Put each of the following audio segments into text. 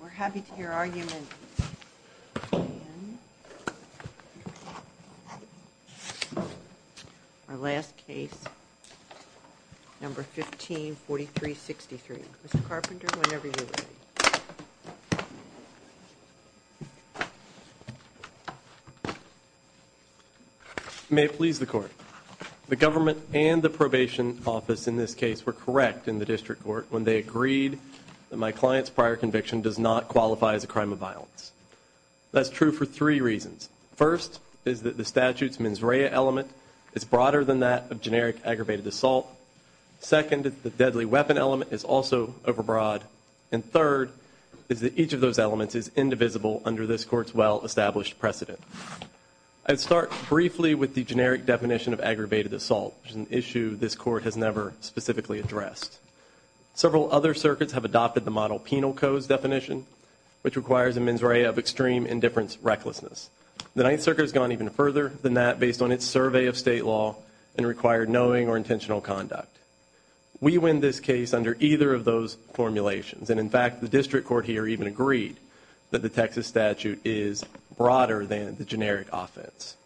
We're happy to hear your argument, and our last case, No. 15-4363. Mr. Carpenter, whenever you're ready. May it please the Court. The government and the probation office in this case were correct in the district court when they agreed that my client's prior conviction does not qualify as a crime of violence. That's true for three reasons. First, is that the statute's mens rea element is broader than that of generic aggravated assault. Second, the deadly weapon element is also overbroad. And third, is that each of those elements is indivisible under this court's well-established precedent. I'd start briefly with the generic definition of aggravated assault, which is an issue this Several other circuits have adopted the model penal codes definition, which requires a mens rea of extreme indifference recklessness. The Ninth Circuit has gone even further than that based on its survey of state law and required knowing or intentional conduct. We win this case under either of those formulations. And in fact, the district court here even agreed that the Texas statute is broader than the generic offense.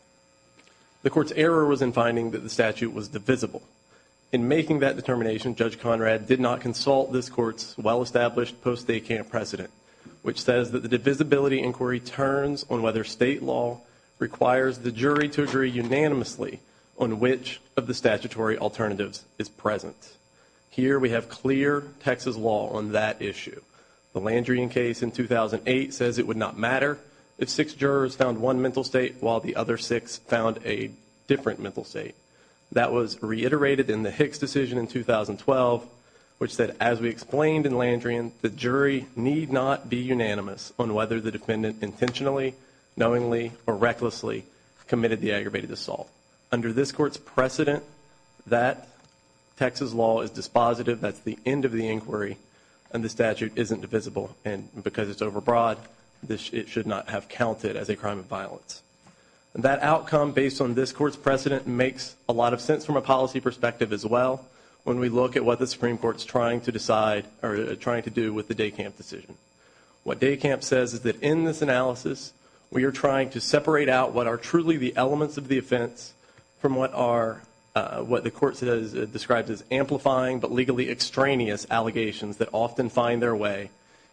The court's error was in finding that the statute was divisible. In making that determination, Judge Conrad did not consult this court's well-established post-day camp precedent, which says that the divisibility inquiry turns on whether state law requires the jury to agree unanimously on which of the statutory alternatives is present. Here, we have clear Texas law on that issue. The Landry in case in 2008 says it would not matter if six jurors found one mental state while the other six found a different mental state. That was reiterated in the Hicks decision in 2012, which said, as we explained in Landry, the jury need not be unanimous on whether the defendant intentionally, knowingly, or recklessly committed the aggravated assault. Under this court's precedent, that Texas law is dispositive. That's the end of the inquiry. And the statute isn't divisible. And because it's overbroad, it should not have counted as a crime of violence. That outcome, based on this court's precedent, makes a lot of sense from a policy perspective as well when we look at what the Supreme Court's trying to decide or trying to do with the day camp decision. What day camp says is that in this analysis, we are trying to separate out what are truly the elements of the offense from what the court describes as amplifying but legally extraneous allegations that often find their way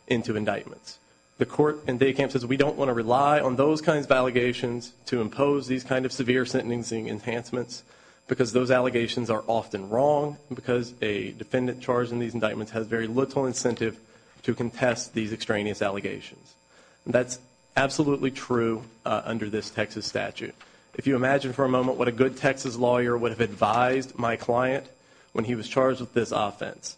into indictments. The court in day camp says we don't want to rely on those kinds of allegations to impose these kind of severe sentencing enhancements because those allegations are often wrong and because a defendant charged in these indictments has very little incentive to contest these extraneous allegations. That's absolutely true under this Texas statute. If you imagine for a moment what a good Texas lawyer would have advised my client when he was charged with this offense.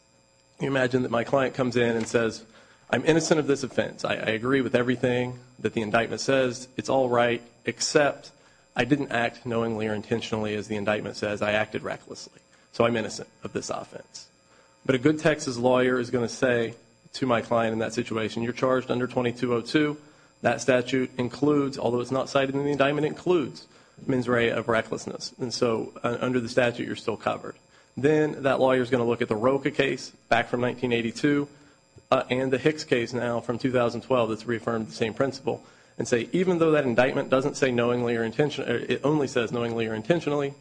You imagine that my client comes in and says, I'm innocent of this offense. I agree with everything that the indictment says. It's all right except I didn't act knowingly or intentionally as the indictment says. I acted recklessly. So I'm innocent of this offense. But a good Texas lawyer is going to say to my client in that situation, you're charged under 2202. That statute includes, although it's not cited in the indictment, it includes mens rea of recklessness. And so under the statute, you're still covered. Then that lawyer is going to look at the Roka case back from 1982 and the Hicks case now from 2012 that's reaffirmed the same principle and say even though that indictment doesn't say knowingly or intentionally, it only says knowingly or intentionally,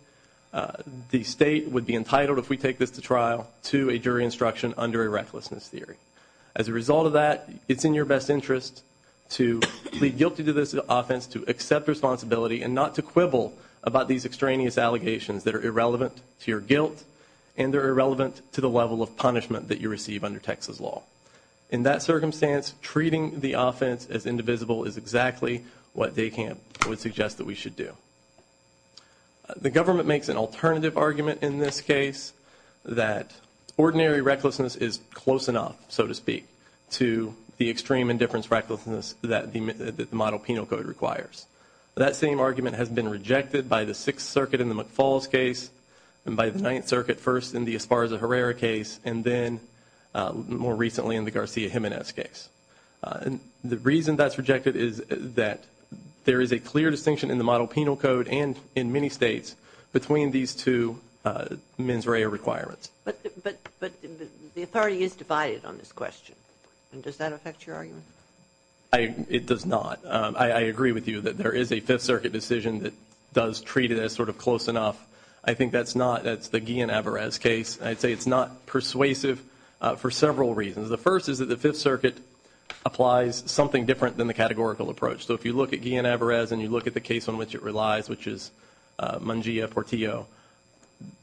the state would be entitled if we take this to trial to a jury instruction under a recklessness theory. As a result of that, it's in your best interest to plead guilty to this offense, to accept responsibility and not to quibble about these extraneous allegations that are irrelevant to your guilt and they're irrelevant to the level of punishment that you receive under Texas law. In that circumstance, treating the offense as indivisible is exactly what Day Camp would suggest that we should do. The government makes an alternative argument in this case that ordinary recklessness is close enough, so to speak, to the extreme indifference recklessness that the model penal code requires. That same argument has been rejected by the Sixth Circuit in the McFalls case and by the Ninth Circuit first in the Esparza-Herrera case and then more recently in the Garcia-Jimenez case. The reason that's rejected is that there is a clear distinction in the model penal code and in many states between these two mens rea requirements. But the authority is divided on this question. Does that affect your argument? It does not. I agree with you that there is a Fifth Circuit decision that does treat it as sort of close enough. I think that's not, that's the Guillen-Avarez case. I'd say it's not persuasive for several reasons. The first is that the Fifth Circuit applies something different than the categorical approach. So if you look at Guillen-Avarez and you look at the case on which it relies, which is Mangia-Portillo,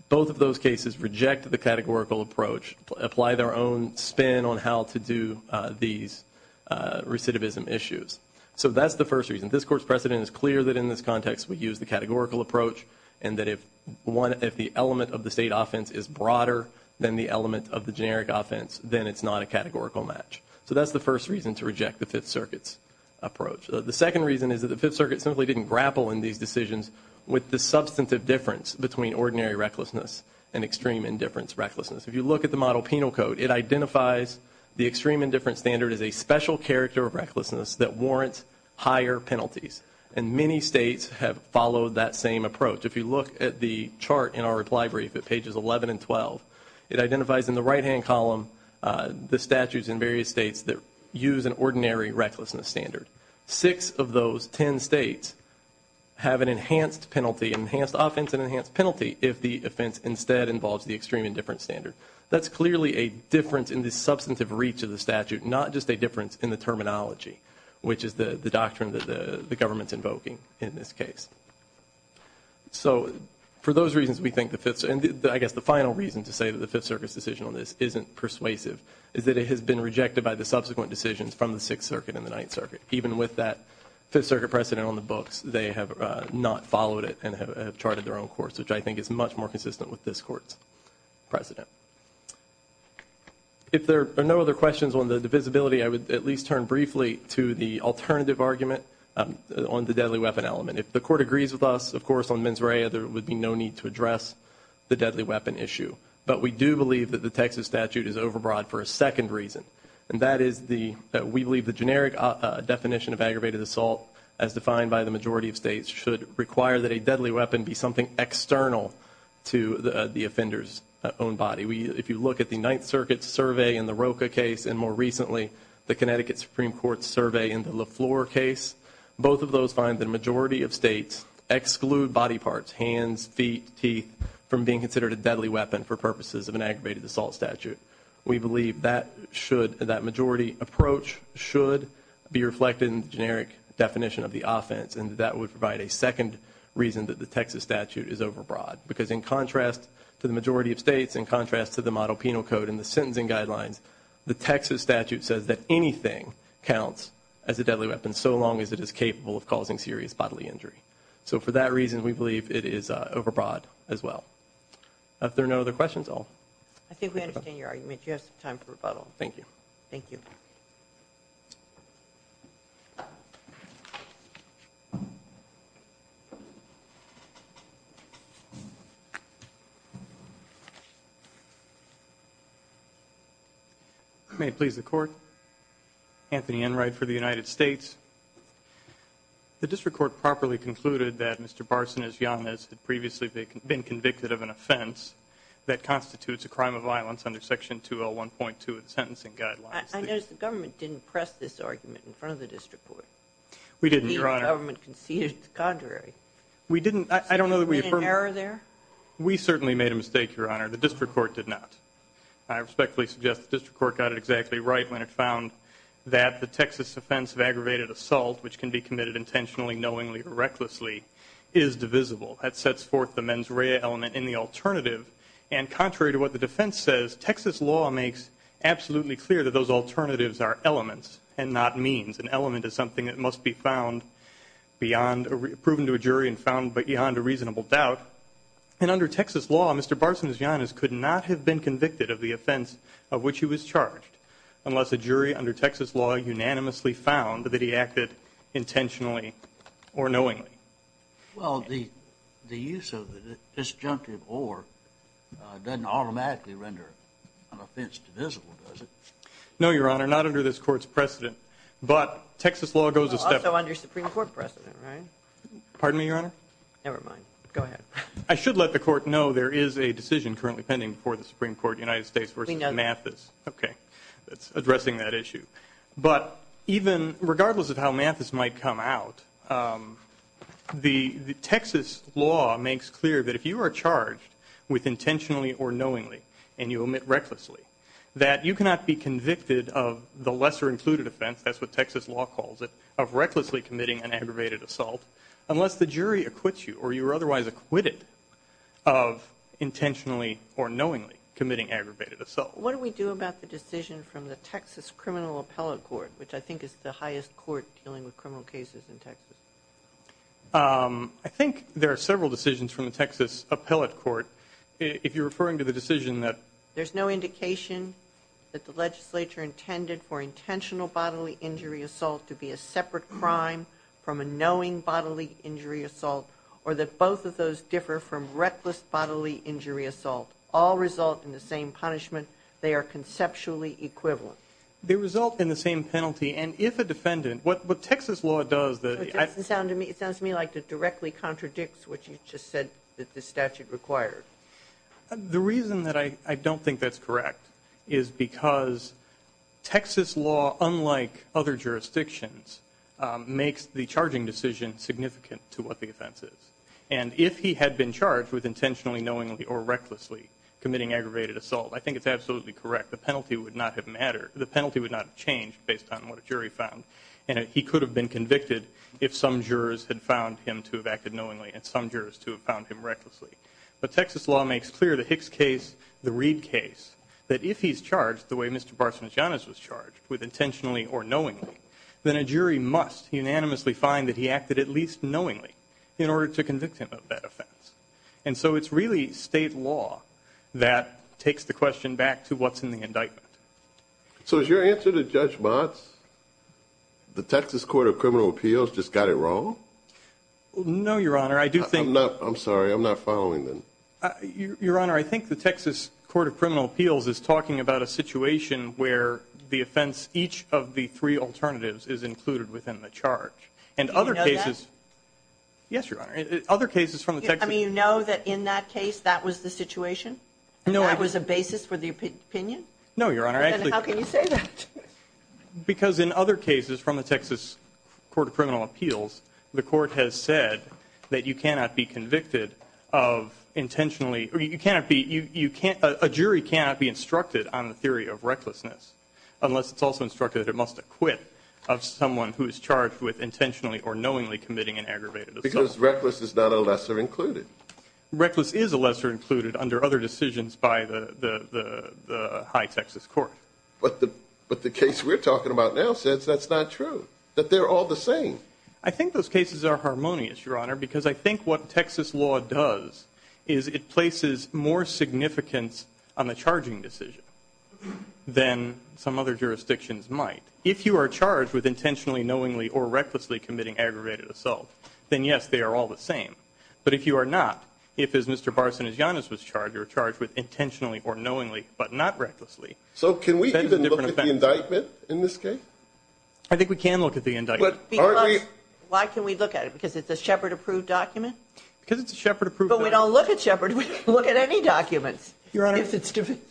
both of those cases reject the categorical approach, apply their own spin on how to do these recidivism issues. So that's the first reason. This Court's precedent is clear that in this context we use the categorical approach and that if one, if the element of the state offense is broader than the element of the generic offense, then it's not a categorical match. So that's the first reason to reject the Fifth Circuit's approach. The second reason is that the Fifth Circuit simply didn't grapple in these decisions with the substantive difference between ordinary recklessness and extreme indifference recklessness. If you look at the model penal code, it identifies the extreme character of recklessness that warrants higher penalties. And many states have followed that same approach. If you look at the chart in our reply brief at pages 11 and 12, it identifies in the right-hand column the statutes in various states that use an ordinary recklessness standard. Six of those ten states have an enhanced penalty, enhanced offense and enhanced penalty, if the offense instead involves the extreme indifference standard. That's clearly a difference in the terminology, which is the doctrine that the government's invoking in this case. So for those reasons we think the Fifth Circuit, and I guess the final reason to say that the Fifth Circuit's decision on this isn't persuasive is that it has been rejected by the subsequent decisions from the Sixth Circuit and the Ninth Circuit. Even with that Fifth Circuit precedent on the books, they have not followed it and have charted their own course, which I think is much more consistent with this Court's precedent. If there are no other questions on the divisibility, I would at least turn briefly to the alternative argument on the deadly weapon element. If the Court agrees with us, of course, on mens rea, there would be no need to address the deadly weapon issue. But we do believe that the Texas statute is overbroad for a second reason, and that is that we believe the generic definition of aggravated assault, as defined by the majority of states, should require that a deadly weapon be something external to the offender's own body. If you look at the Ninth Circuit's survey in the Roka case and, more recently, the Connecticut Supreme Court's survey in the LaFleur case, both of those find that a majority of states exclude body parts, hands, feet, teeth, from being considered a deadly weapon for purposes of an aggravated assault statute. We believe that majority approach should be reflected in the generic definition of the offense, and that would provide a second reason that the Texas statute is overbroad. Because in contrast to the majority of states, in contrast to the model penal code and the sentencing guidelines, the Texas statute says that anything counts as a deadly weapon, so long as it is capable of causing serious bodily injury. So for that reason, we believe it is overbroad as well. If there are no other questions, I'll stop. I think we understand your argument. You have some time for rebuttal. Thank you. May it please the Court. Anthony Enright for the United States. The District Court properly concluded that Mr. Barson is young, as had previously been convicted of an offense that constitutes a crime of violence under Section 201.2 of the Sentencing Guidelines. I notice the government didn't press this argument in front of the District Court. We didn't, Your Honor. The federal government conceded it's contrary. We didn't. I don't know that we affirmed it. So you made an error there? We certainly made a mistake, Your Honor. The District Court did not. I respectfully suggest the District Court got it exactly right when it found that the Texas offense of aggravated assault, which can be committed intentionally, knowingly, or recklessly, is divisible. That sets forth the mens rea element in the alternative. And contrary to what the defense says, Texas law makes absolutely clear that those alternatives are elements and not means. An element is something that must be proven to a jury and found beyond a reasonable doubt. And under Texas law, Mr. Barson's youngest could not have been convicted of the offense of which he was charged, unless a jury under Texas law unanimously found that he acted intentionally or knowingly. Well, the use of disjunctive or doesn't automatically render an offense divisible, does it? No, Your Honor. Not under this Court's precedent. But Texas law goes a step further. Also under Supreme Court precedent, right? Pardon me, Your Honor? Never mind. Go ahead. I should let the Court know there is a decision currently pending before the Supreme Court, United States v. Mathis. We know that. Okay. It's addressing that issue. But even regardless of how Mathis might come out, the Texas law makes clear that if you are charged with intentionally or knowingly and you omit be convicted of the lesser included offense, that's what Texas law calls it, of recklessly committing an aggravated assault, unless the jury acquits you or you are otherwise acquitted of intentionally or knowingly committing aggravated assault. What do we do about the decision from the Texas Criminal Appellate Court, which I think is the highest court dealing with criminal cases in Texas? I think there are several decisions from the Texas Appellate Court. If you're referring to the decision that there's no indication that the legislature intended for intentional bodily injury assault to be a separate crime from a knowing bodily injury assault, or that both of those differ from reckless bodily injury assault, all result in the same punishment, they are conceptually equivalent. They result in the same penalty. And if a defendant, what Texas law does, that I It doesn't sound to me, it sounds to me like it directly contradicts what you just said that the statute required. The reason that I don't think that's correct is because Texas law, unlike other jurisdictions, makes the charging decision significant to what the offense is. And if he had been charged with intentionally, knowingly, or recklessly committing aggravated assault, I think it's absolutely correct. The penalty would not have mattered. The penalty would not have changed based on what a jury found. And he could have been convicted if some jurors had found him to have acted knowingly and some jurors to have found him recklessly. But Texas law makes clear the Hicks case, the Reed case, that if he's charged the way Mr. Barsanjianis was charged, with intentionally or knowingly, then a jury must unanimously find that he acted at least knowingly in order to convict him of that offense. And so it's really state law that takes the question back to what's in the indictment. So is your answer to Judge Mott's, the Texas Court of Criminal Appeals just got it wrong? No, Your Honor. I do think... I'm sorry, I'm not following then. Your Honor, I think the Texas Court of Criminal Appeals is talking about a situation where the offense, each of the three alternatives, is included within the charge. And other cases... Do you know that? Yes, Your Honor. Other cases from the Texas... I mean, you know that in that case, that was the situation? No, I... And that was a basis for the opinion? No, Your Honor. Then how can you say that? Because in other cases from the Texas Court of Criminal Appeals, the court has said that you cannot be convicted of intentionally... you cannot be... a jury cannot be instructed on the theory of recklessness, unless it's also instructed that it must acquit of someone who is charged with intentionally or knowingly committing an aggravated assault. Because reckless is not a lesser included. Reckless is a lesser included under other decisions by the high Texas court. But the case we're talking about now says that's not true. That they're all the same. I think those cases are harmonious, Your Honor, because I think what Texas law does is it places more significance on the charging decision than some other jurisdictions might. If you are charged with intentionally, knowingly, or recklessly committing aggravated assault, then yes, they are all the same. But if you are not, if as Mr. Barsanagianis was charged, you're charged with intentionally or knowingly, but not recklessly. So can we even look at the indictment in this case? I think we can look at the indictment. Why can we look at it? Because it's a Shepard-approved document? Because it's a Shepard-approved document. But we don't look at Shepard. We don't look at any documents, if it's divisible.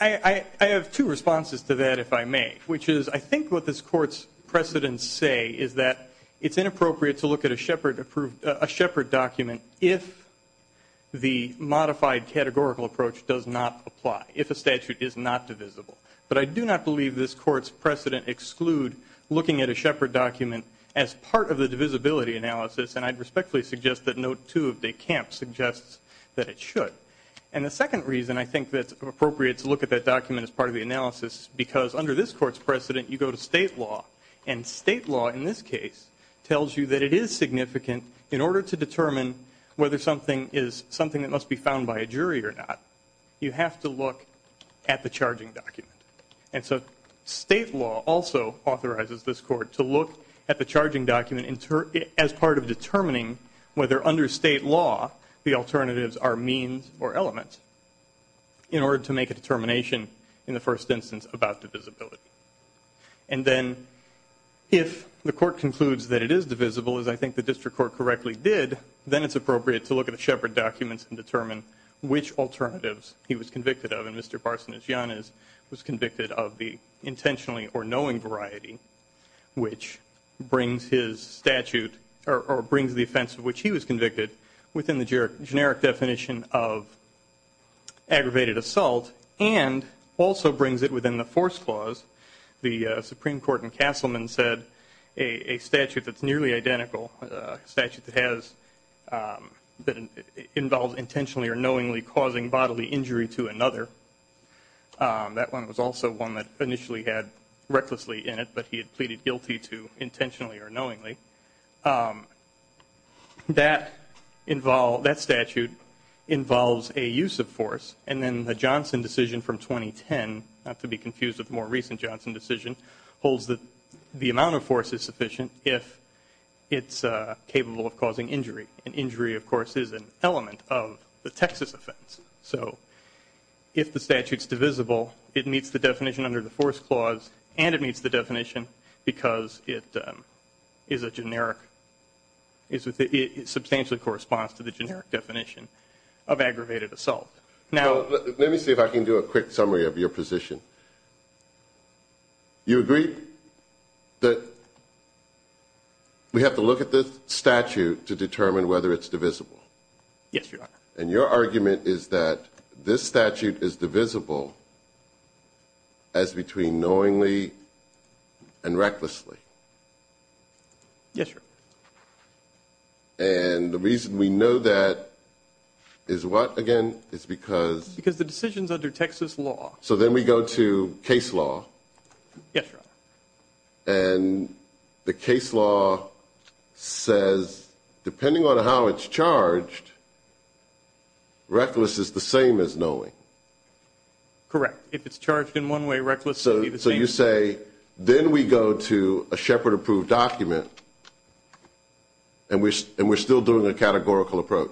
I have two responses to that, if I may, which is I think what this Court's precedents say is that it's inappropriate to look at a Shepard-approved... a Shepard document if the modified categorical approach does not apply, if a statute is not divisible. But I do not believe this Court's precedent exclude looking at a Shepard document as part of the divisibility analysis, and I'd respectfully suggest that Note 2 of de Camp suggests that it should. And the second reason I think that it's appropriate to look at that document as part of the analysis is because under this Court's precedent, you go to state law, and state law in this case tells you that it is significant in order to determine whether something is something that must be found by a jury or not. You have to look at the charging document. And so state law also authorizes this Court to look at the charging document as part of determining whether under state law the alternatives are means or elements in order to make a determination in the first instance about divisibility. And then if the Court concludes that it is divisible, as I think the District Court correctly did, then it's appropriate to look at the Shepard documents and determine which alternatives he was convicted of. And Mr. Barsanianis was convicted of the intentionally or knowing variety, which brings his statute or brings the offense of which he was convicted within the generic definition of aggravated assault and also brings it within the force clause. The Supreme Court in Castleman said a statute that's nearly identical, a statute that has that involves intentionally or knowingly causing bodily injury to another. That one was also one that initially had recklessly in it, but he had pleaded guilty to intentionally or knowingly. That involved, that statute involves a use of force, and then the Johnson decision from the Johnson decision holds that the amount of force is sufficient if it's capable of causing injury. And injury, of course, is an element of the Texas offense. So if the statute's divisible, it meets the definition under the force clause and it meets the definition because it is a generic, it substantially corresponds to the generic definition of aggravated assault. Now, let me see if I can do a quick summary of your position. You agree that we have to look at this statute to determine whether it's divisible? Yes, Your Honor. And your argument is that this statute is divisible as between knowingly and recklessly? Yes, Your Honor. And the reason we know that is what, again? It's because... Because the decision's under Texas law. So then we go to case law. Yes, Your Honor. And the case law says, depending on how it's charged, reckless is the same as knowing. Correct. If it's charged in one way, reckless would be the same. So you say, then we go to a Shepard-approved document and we're still doing a categorical approach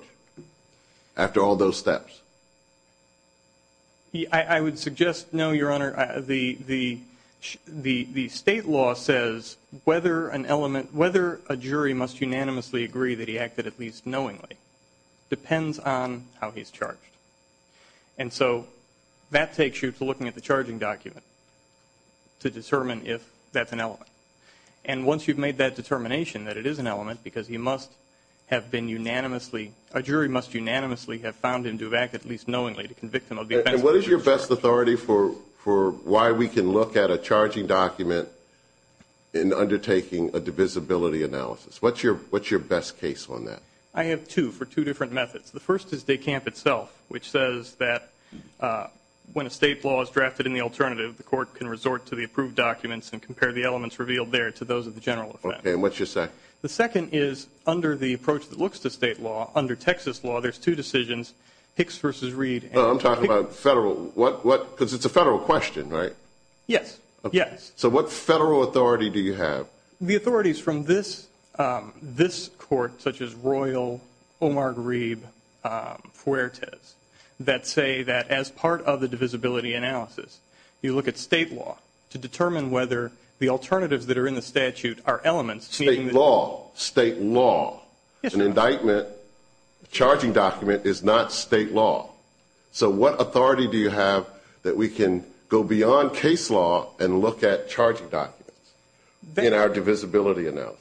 after all those steps? I would suggest, no, Your Honor. The state law says whether an element, whether a jury must unanimously agree that he acted And so that takes you to looking at the charging document to determine if that's an element. And once you've made that determination that it is an element, because he must have been unanimously, a jury must unanimously have found him to have acted at least knowingly to convict him of the offense... And what is your best authority for why we can look at a charging document in undertaking a divisibility analysis? What's your best case on that? I have two for two different methods. The first is DECAMP itself, which says that when a state law is drafted in the alternative the court can resort to the approved documents and compare the elements revealed there to those of the general offense. Okay, and what's your second? The second is, under the approach that looks to state law, under Texas law, there's two decisions, Hicks v. Reed... I'm talking about federal, because it's a federal question, right? Yes, yes. So what federal authority do you have? The authorities from this court, such as Royal, Omar Grebe, Fuertes, that say that as part of the divisibility analysis, you look at state law to determine whether the alternatives that are in the statute are elements... State law, state law. Yes, Your Honor. An indictment, a charging document is not state law. So what authority do you have that we can go beyond case law and look at charging documents in our divisibility analysis?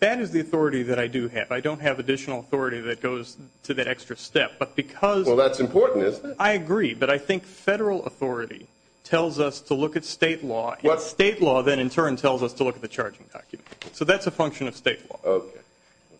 That is the authority that I do have. I don't have additional authority that goes to that extra step, but because... Well, that's important, isn't it? I agree, but I think federal authority tells us to look at state law, and state law then in turn tells us to look at the charging document. So that's a function of state law. Okay.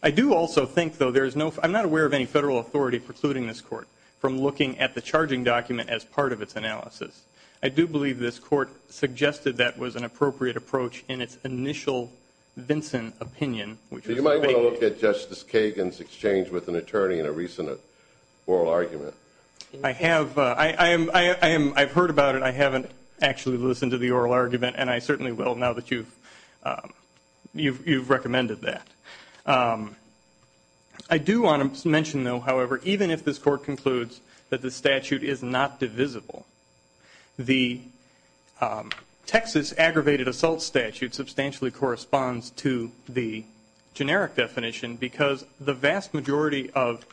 I do also think, though, there's no... I'm not aware of any federal authority precluding this court from looking at the charging document as part of its analysis. I do believe this court suggested that was an appropriate approach in its initial Vinson opinion, which was... So you might want to look at Justice Kagan's exchange with an attorney in a recent oral argument. I have. I've heard about it. I haven't actually listened to the oral argument, and I certainly will now that you've recommended that. I do want to mention, though, however, even if this court concludes that the statute is not divisible, the Texas aggravated assault statute substantially corresponds to the generic definition, because the vast majority of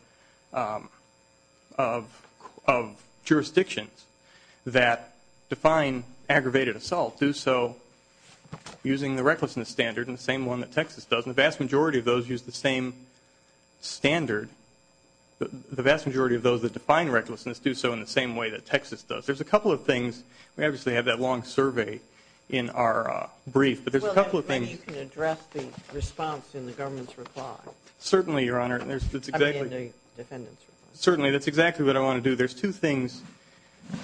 jurisdictions that define aggravated assault do so using the recklessness standard, and the same one that Texas does. And the vast majority of those use the same standard. The vast majority of those that define recklessness do so in the same way that Texas does. There's a couple of things. We obviously have that long survey in our brief, but there's a couple of things... Well, maybe you can address the response in the government's reply. Certainly, Your Honor. I mean, in the defendant's reply. Certainly. That's exactly what I want to do. There's two things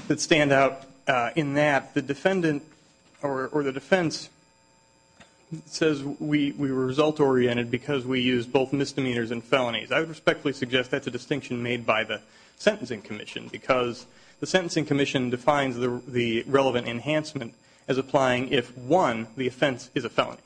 that stand out in that. The defendant or the defense says we were result-oriented because we used both misdemeanors and felonies. I would respectfully suggest that's a distinction made by the Sentencing Commission, because the Sentencing Commission defines the relevant enhancement as applying if, one, the offense is a felony,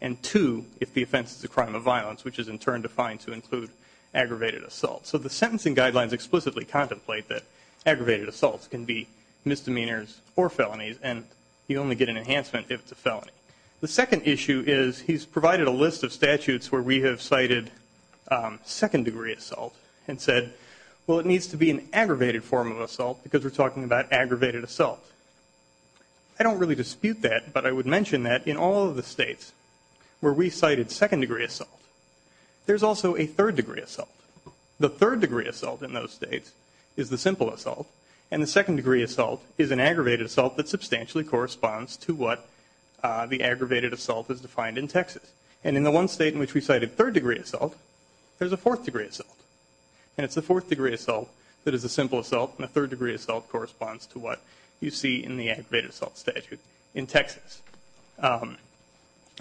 and two, if the offense is a crime of violence, which is in turn defined to include aggravated assault. So the sentencing guidelines explicitly contemplate that aggravated assaults can be misdemeanors or felonies, and you only get an enhancement if it's a felony. The second issue is he's provided a list of statutes where we have cited second-degree assault and said, well, it needs to be an aggravated form of assault because we're talking about aggravated assault. I don't really dispute that, but I would mention that in all of the states where we cited second-degree assault, there's also a third-degree assault. The third-degree assault in those states is the simple assault, and the second-degree assault is an aggravated assault that substantially corresponds to what the aggravated assault is defined in Texas. And in the one state in which we cited third-degree assault, there's a fourth-degree assault. And it's a fourth-degree assault that is a simple assault, and a third-degree assault corresponds to what you see in the aggravated assault statute in Texas.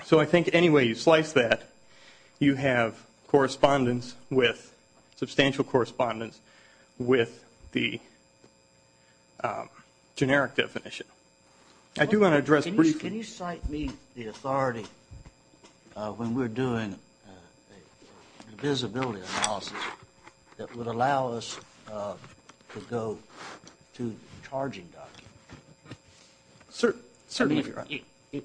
So I think any way you slice that, you have correspondence with, substantial correspondence with the generic definition. I do want to address briefly... Can you cite me the authority when we're doing a visibility analysis that would allow us to go to the charging document? Certainly, if you're right. If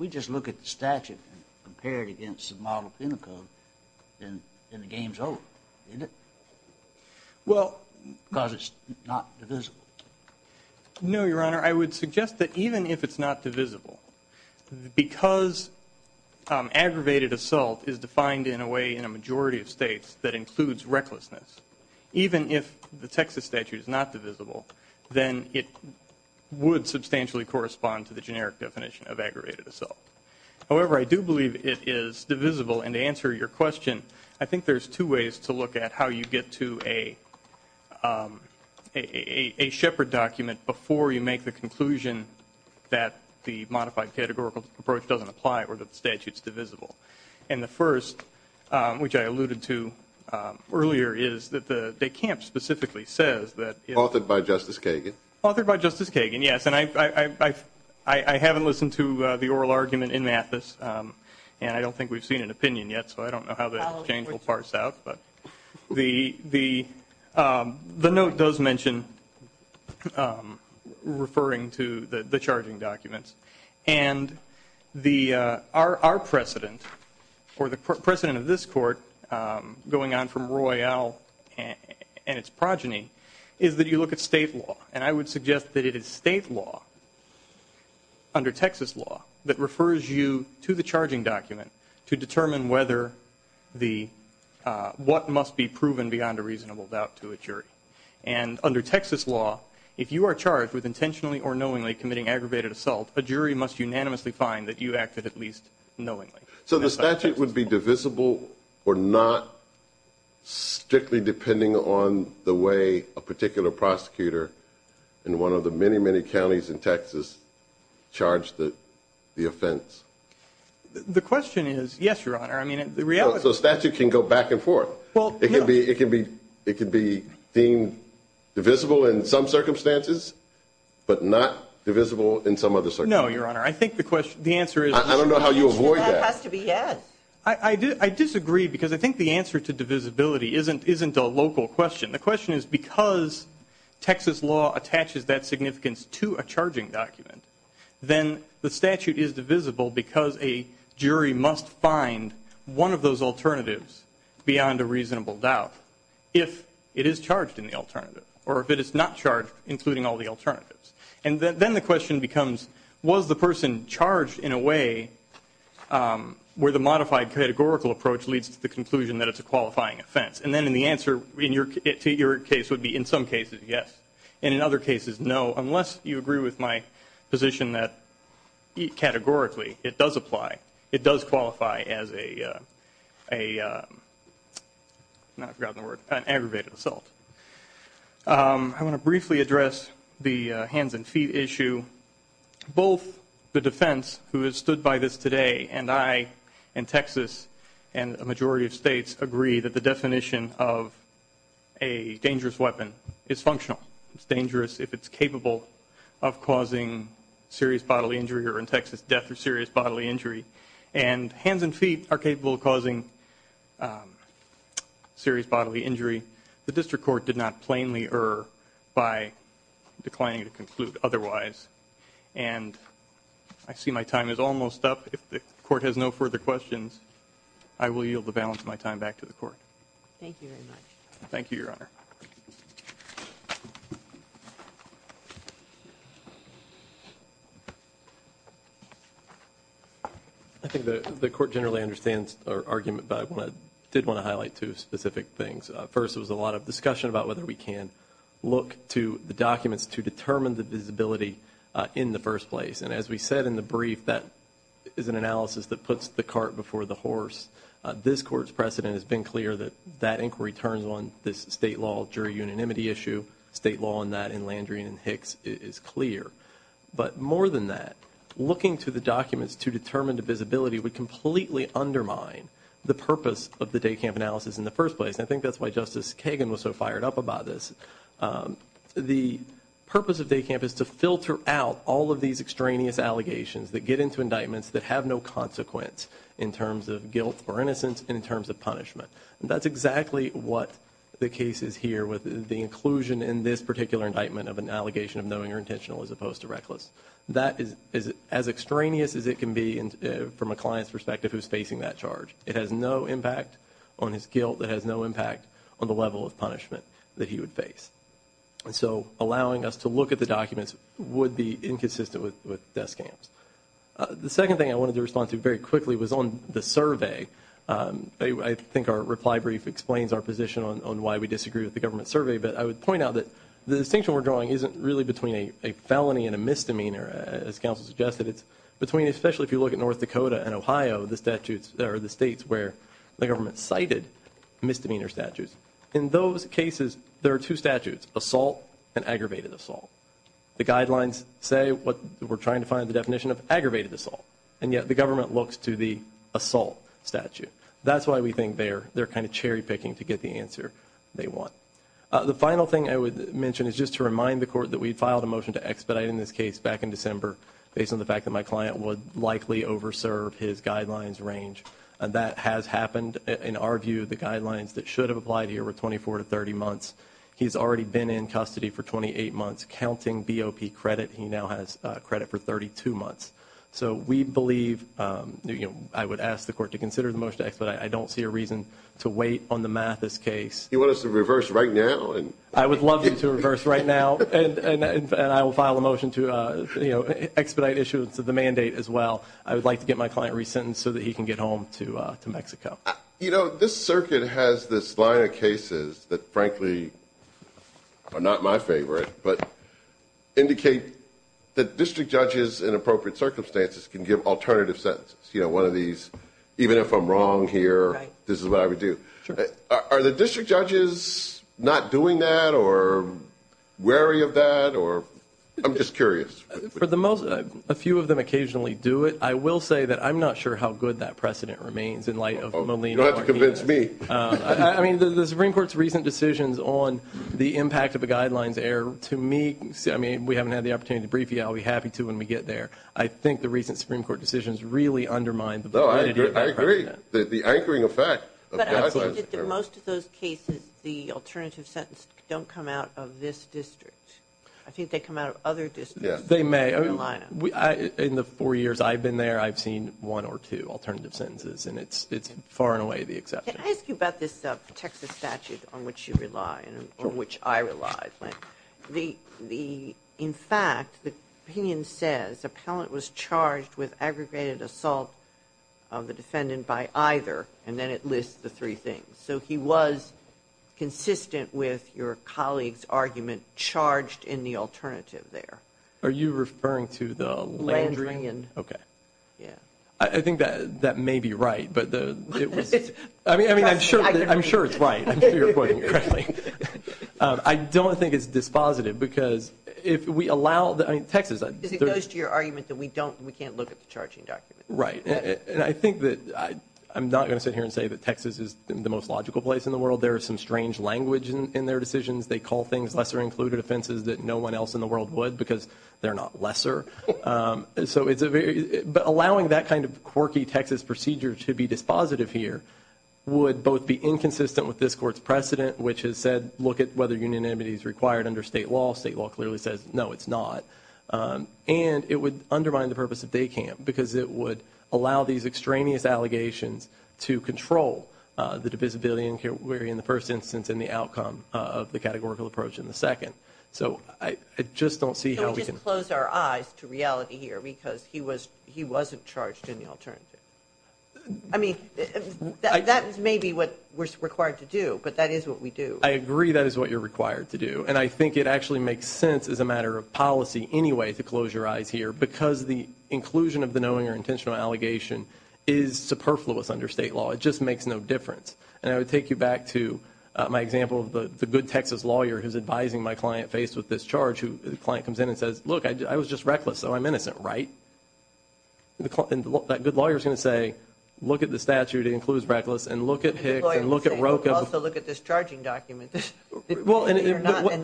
we just look at the statute and compare it against the model penal code, then the game's over, isn't it? Well... Because it's not divisible. No, Your Honor. I would suggest that even if it's not divisible, because aggravated assault is defined in a way in a majority of states that includes recklessness, even if the Texas statute is not divisible, then it would substantially correspond to the generic definition of aggravated assault. However, I do believe it is divisible. And to answer your question, I think there's two ways to look at how you get to a Shepard document before you make the conclusion that the modified pedagogical approach doesn't apply or that the statute's divisible. And the first, which I alluded to earlier, is that the de Camps specifically says that... Authored by Justice Kagan. Authored by Justice Kagan, yes. And I haven't listened to the oral argument in Mathis, and I don't think we've seen an opinion yet, so I don't know how the exchange will parse out. But the note does mention referring to the charging documents. And our precedent, or the precedent of this Court going on from Roy L. and its progeny is that you look at state law. And I would suggest that it is state law under Texas law that refers you to the charging document to determine what must be proven beyond a reasonable doubt to a jury. And under Texas law, if you are charged with intentionally or knowingly committing aggravated assault, a jury must unanimously find that you acted at least knowingly. So the statute would be divisible or not strictly depending on the way a particular prosecutor in one of the many, many counties in Texas charged the offense. The question is, yes, Your Honor. So the statute can go back and forth. It can be deemed divisible in some circumstances, but not divisible in some other circumstances. No, Your Honor. I think the answer is... I don't know how you avoid that. It has to be yes. I disagree, because I think the answer to divisibility isn't a local question. The question is, because Texas law attaches that significance to a charging document, then the statute is divisible because a jury must find one of those alternatives beyond a reasonable doubt if it is charged in the alternative. Or if it is not charged, including all the alternatives. And then the question becomes, was the person charged in a way where the modified categorical approach leads to the conclusion that it's a qualifying offense? And then the answer to your case would be, in some cases, yes. And in other cases, no. Unless you agree with my position that categorically it does apply. It does qualify as an aggravated assault. I want to briefly address the hands and feet issue. Both the defense, who has stood by this today, and I, and Texas, and a majority of states, agree that the definition of a dangerous weapon is functional. It's dangerous if it's capable of causing serious bodily injury, or in Texas, death or serious bodily injury. And hands and feet are capable of causing serious bodily injury. The district court did not plainly err by declining to conclude otherwise. And I see my time is almost up. If the court has no further questions, I will yield the balance of my time back to the court. Thank you very much. Thank you, Your Honor. I think the court generally understands our argument, but I did want to highlight two specific things. First, there was a lot of discussion about whether we can look to the documents to determine the visibility in the first place. And as we said in the brief, that is an analysis that puts the cart before the horse. This court's precedent has been clear that that inquiry turns on this state law jury unanimity issue. State law on that in Landry and Hicks is clear. But more than that, looking to the documents to determine the visibility would completely undermine the purpose of the day camp analysis in the first place. And I think that's why Justice Kagan was so fired up about this. The purpose of day camp is to filter out all of these extraneous allegations that get into indictments that have no consequence in terms of guilt or innocence and in terms of punishment. That's exactly what the case is here with the inclusion in this particular indictment of an allegation of knowing or intentional as opposed to reckless. That is as extraneous as it can be from a client's perspective who's facing that charge. It has no impact on his guilt. It has no impact on the level of punishment that he would face. And so allowing us to look at the documents would be inconsistent with desk camps. The second thing I wanted to respond to very quickly was on the survey. I think our reply brief explains our position on why we disagree with the government survey. But I would point out that the distinction we're drawing isn't really between a felony and a misdemeanor. As counsel suggested, it's between, especially if you look at North Dakota and Ohio, the statutes, or the states where the government cited misdemeanor statutes. In those cases, there are two statutes, assault and aggravated assault. The guidelines say what we're trying to find the definition of aggravated assault. And yet the government looks to the assault statute. That's why we think they're kind of cherry picking to get the answer they want. The final thing I would mention is just to remind the court that we filed a motion to expedite in this case back in December based on the fact that my client would likely over serve his guidelines range. And that has happened. In our view, the guidelines that should have applied here were 24 to 30 months. He's already been in custody for 28 months, counting BOP credit. He now has credit for 32 months. So we believe, I would ask the court to consider the motion to expedite. I don't see a reason to wait on the Mathis case. You want us to reverse right now? I would love you to reverse right now. And I will file a motion to expedite issuance of the mandate as well. I would like to get my client re-sentenced so that he can get home to Mexico. You know, this circuit has this line of cases that frankly are not my favorite but indicate that district judges in appropriate circumstances can give alternative sentences. You know, one of these, even if I'm wrong here, this is what I would do. Are the district judges not doing that or wary of that? I'm just curious. A few of them occasionally do it. I will say that I'm not sure how good that precedent remains in light of Molina. You'll have to convince me. I mean, the Supreme Court's recent decisions on the impact of a guidelines error, to me, we haven't had the opportunity to brief you. I'll be happy to when we get there. I think the recent Supreme Court decisions really undermine the validity of that precedent. I agree, the anchoring effect of the guidelines error. But I think that in most of those cases, the alternative sentences don't come out of this district. I think they come out of other districts. They may. In the four years I've been there, I've seen one or two alternative sentences and it's far and away the exception. Can I ask you about this Texas statute on which you rely, or which I rely? In fact, the opinion says, the appellant was charged with aggregated assault of the defendant by either, and then it lists the three things. So he was consistent with your colleague's argument, charged in the alternative there. Are you referring to the Landrian? Landrian. Okay. I think that may be right. I mean, I'm sure it's right. I'm sure you're quoting correctly. I don't think it's dispositive because if we allow, I mean, Texas. Because it goes to your argument that we don't, we can't look at the charging document. Right. And I think that, I'm not going to sit here and say that Texas is the most logical place in the world. There is some strange language in their decisions. They call things lesser included offenses that no one else in the world would because they're not lesser. So it's a very, but allowing that kind of quirky Texas procedure to be dispositive here would both be inconsistent with this court's precedent, which has said look at whether unanimity is required under state law. State law clearly says no, it's not. And it would undermine the purpose of day camp because it would allow these extraneous allegations to control the divisibility inquiry in the first instance and the outcome of the categorical approach in the second. So I just don't see how we can. Can we just close our eyes to reality here because he wasn't charged in the alternative. I mean, that's maybe what we're required to do, but that is what we do. I agree that is what you're required to do. And I think it actually makes sense as a matter of policy anyway to close your eyes here because the inclusion of the knowing or intentional allegation is superfluous under state law. It just makes no difference. And I would take you back to my example of the good Texas lawyer who's advising my client faced with this charge who the client comes in and says, look, I was just reckless so I'm innocent, right? And that good lawyer is going to say, look at the statute, it includes reckless, and look at Hicks and look at Rocha. Also look at this charging document. And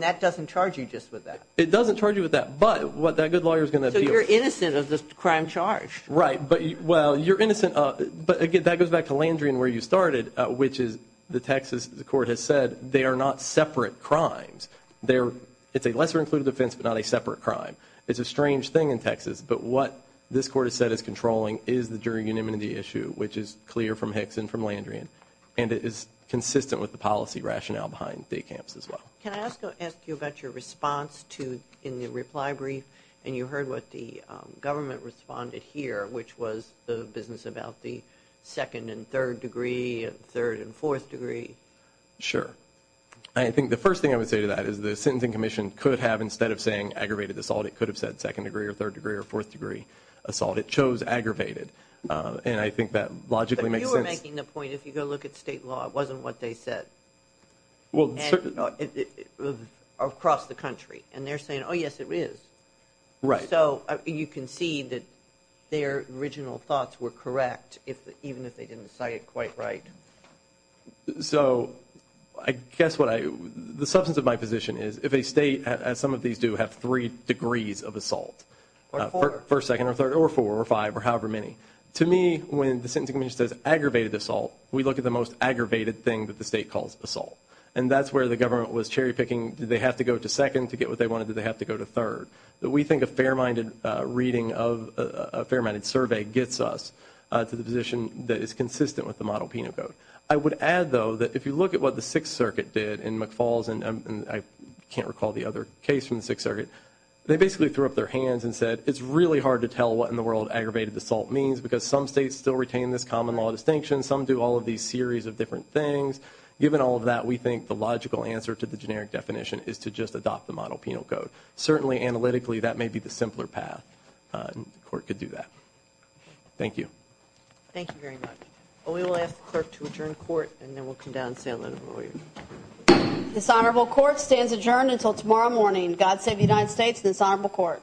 that doesn't charge you just with that. It doesn't charge you with that, but what that good lawyer is going to appeal. So you're innocent of this crime charge. Right, but well, you're innocent. But again, that goes back to Landry and where you started, which is the Texas court has said they are not separate crimes. It's a lesser included offense, but not a separate crime. It's a strange thing in Texas, but what this court has said is controlling is the jury unanimity issue, which is clear from Hicks and from Landry and it is consistent with the policy rationale behind day camps as well. Can I ask you about your response in the reply brief and you heard what the government responded here, which was the business about the second and third degree and third and fourth degree. Sure. I think the first thing I would say to that is the sentencing commission could have, instead of saying aggravated assault, it could have said second degree or third degree or fourth degree assault. It chose aggravated. And I think that logically makes sense. But you were making the point, if you go look at state law, it wasn't what they said across the country. And they're saying, oh, yes, it is. Right. So you can see that their original thoughts were correct, even if they didn't cite it quite right. So I guess what I, the substance of my position is, if a state, as some of these do, have three degrees of assault, first, second or third or four or five or however many, to me, when the sentencing commission says aggravated assault, we look at the most aggravated thing that the state calls assault. And that's where the government was cherry picking, did they have to go to second to get what they wanted, did they have to go to third? But we think a fair-minded reading of a fair-minded survey gets us to the position that is consistent with the model penal code. I would add, though, that if you look at what the Sixth Circuit did in McFalls, and I can't recall the other case from the Sixth Circuit, they basically threw up their hands and said it's really hard to tell what in the world aggravated assault means because some states still retain this common law distinction, some do all of these series of different things. Given all of that, we think the logical answer to the generic definition is to just adopt the model penal code. Certainly, analytically, that may be the simpler path. The court could do that. Thank you. Thank you very much. We will ask the clerk to adjourn court and then we'll come down and say hello to the lawyer. This honorable court stands adjourned until tomorrow morning. God save the United States and this honorable court.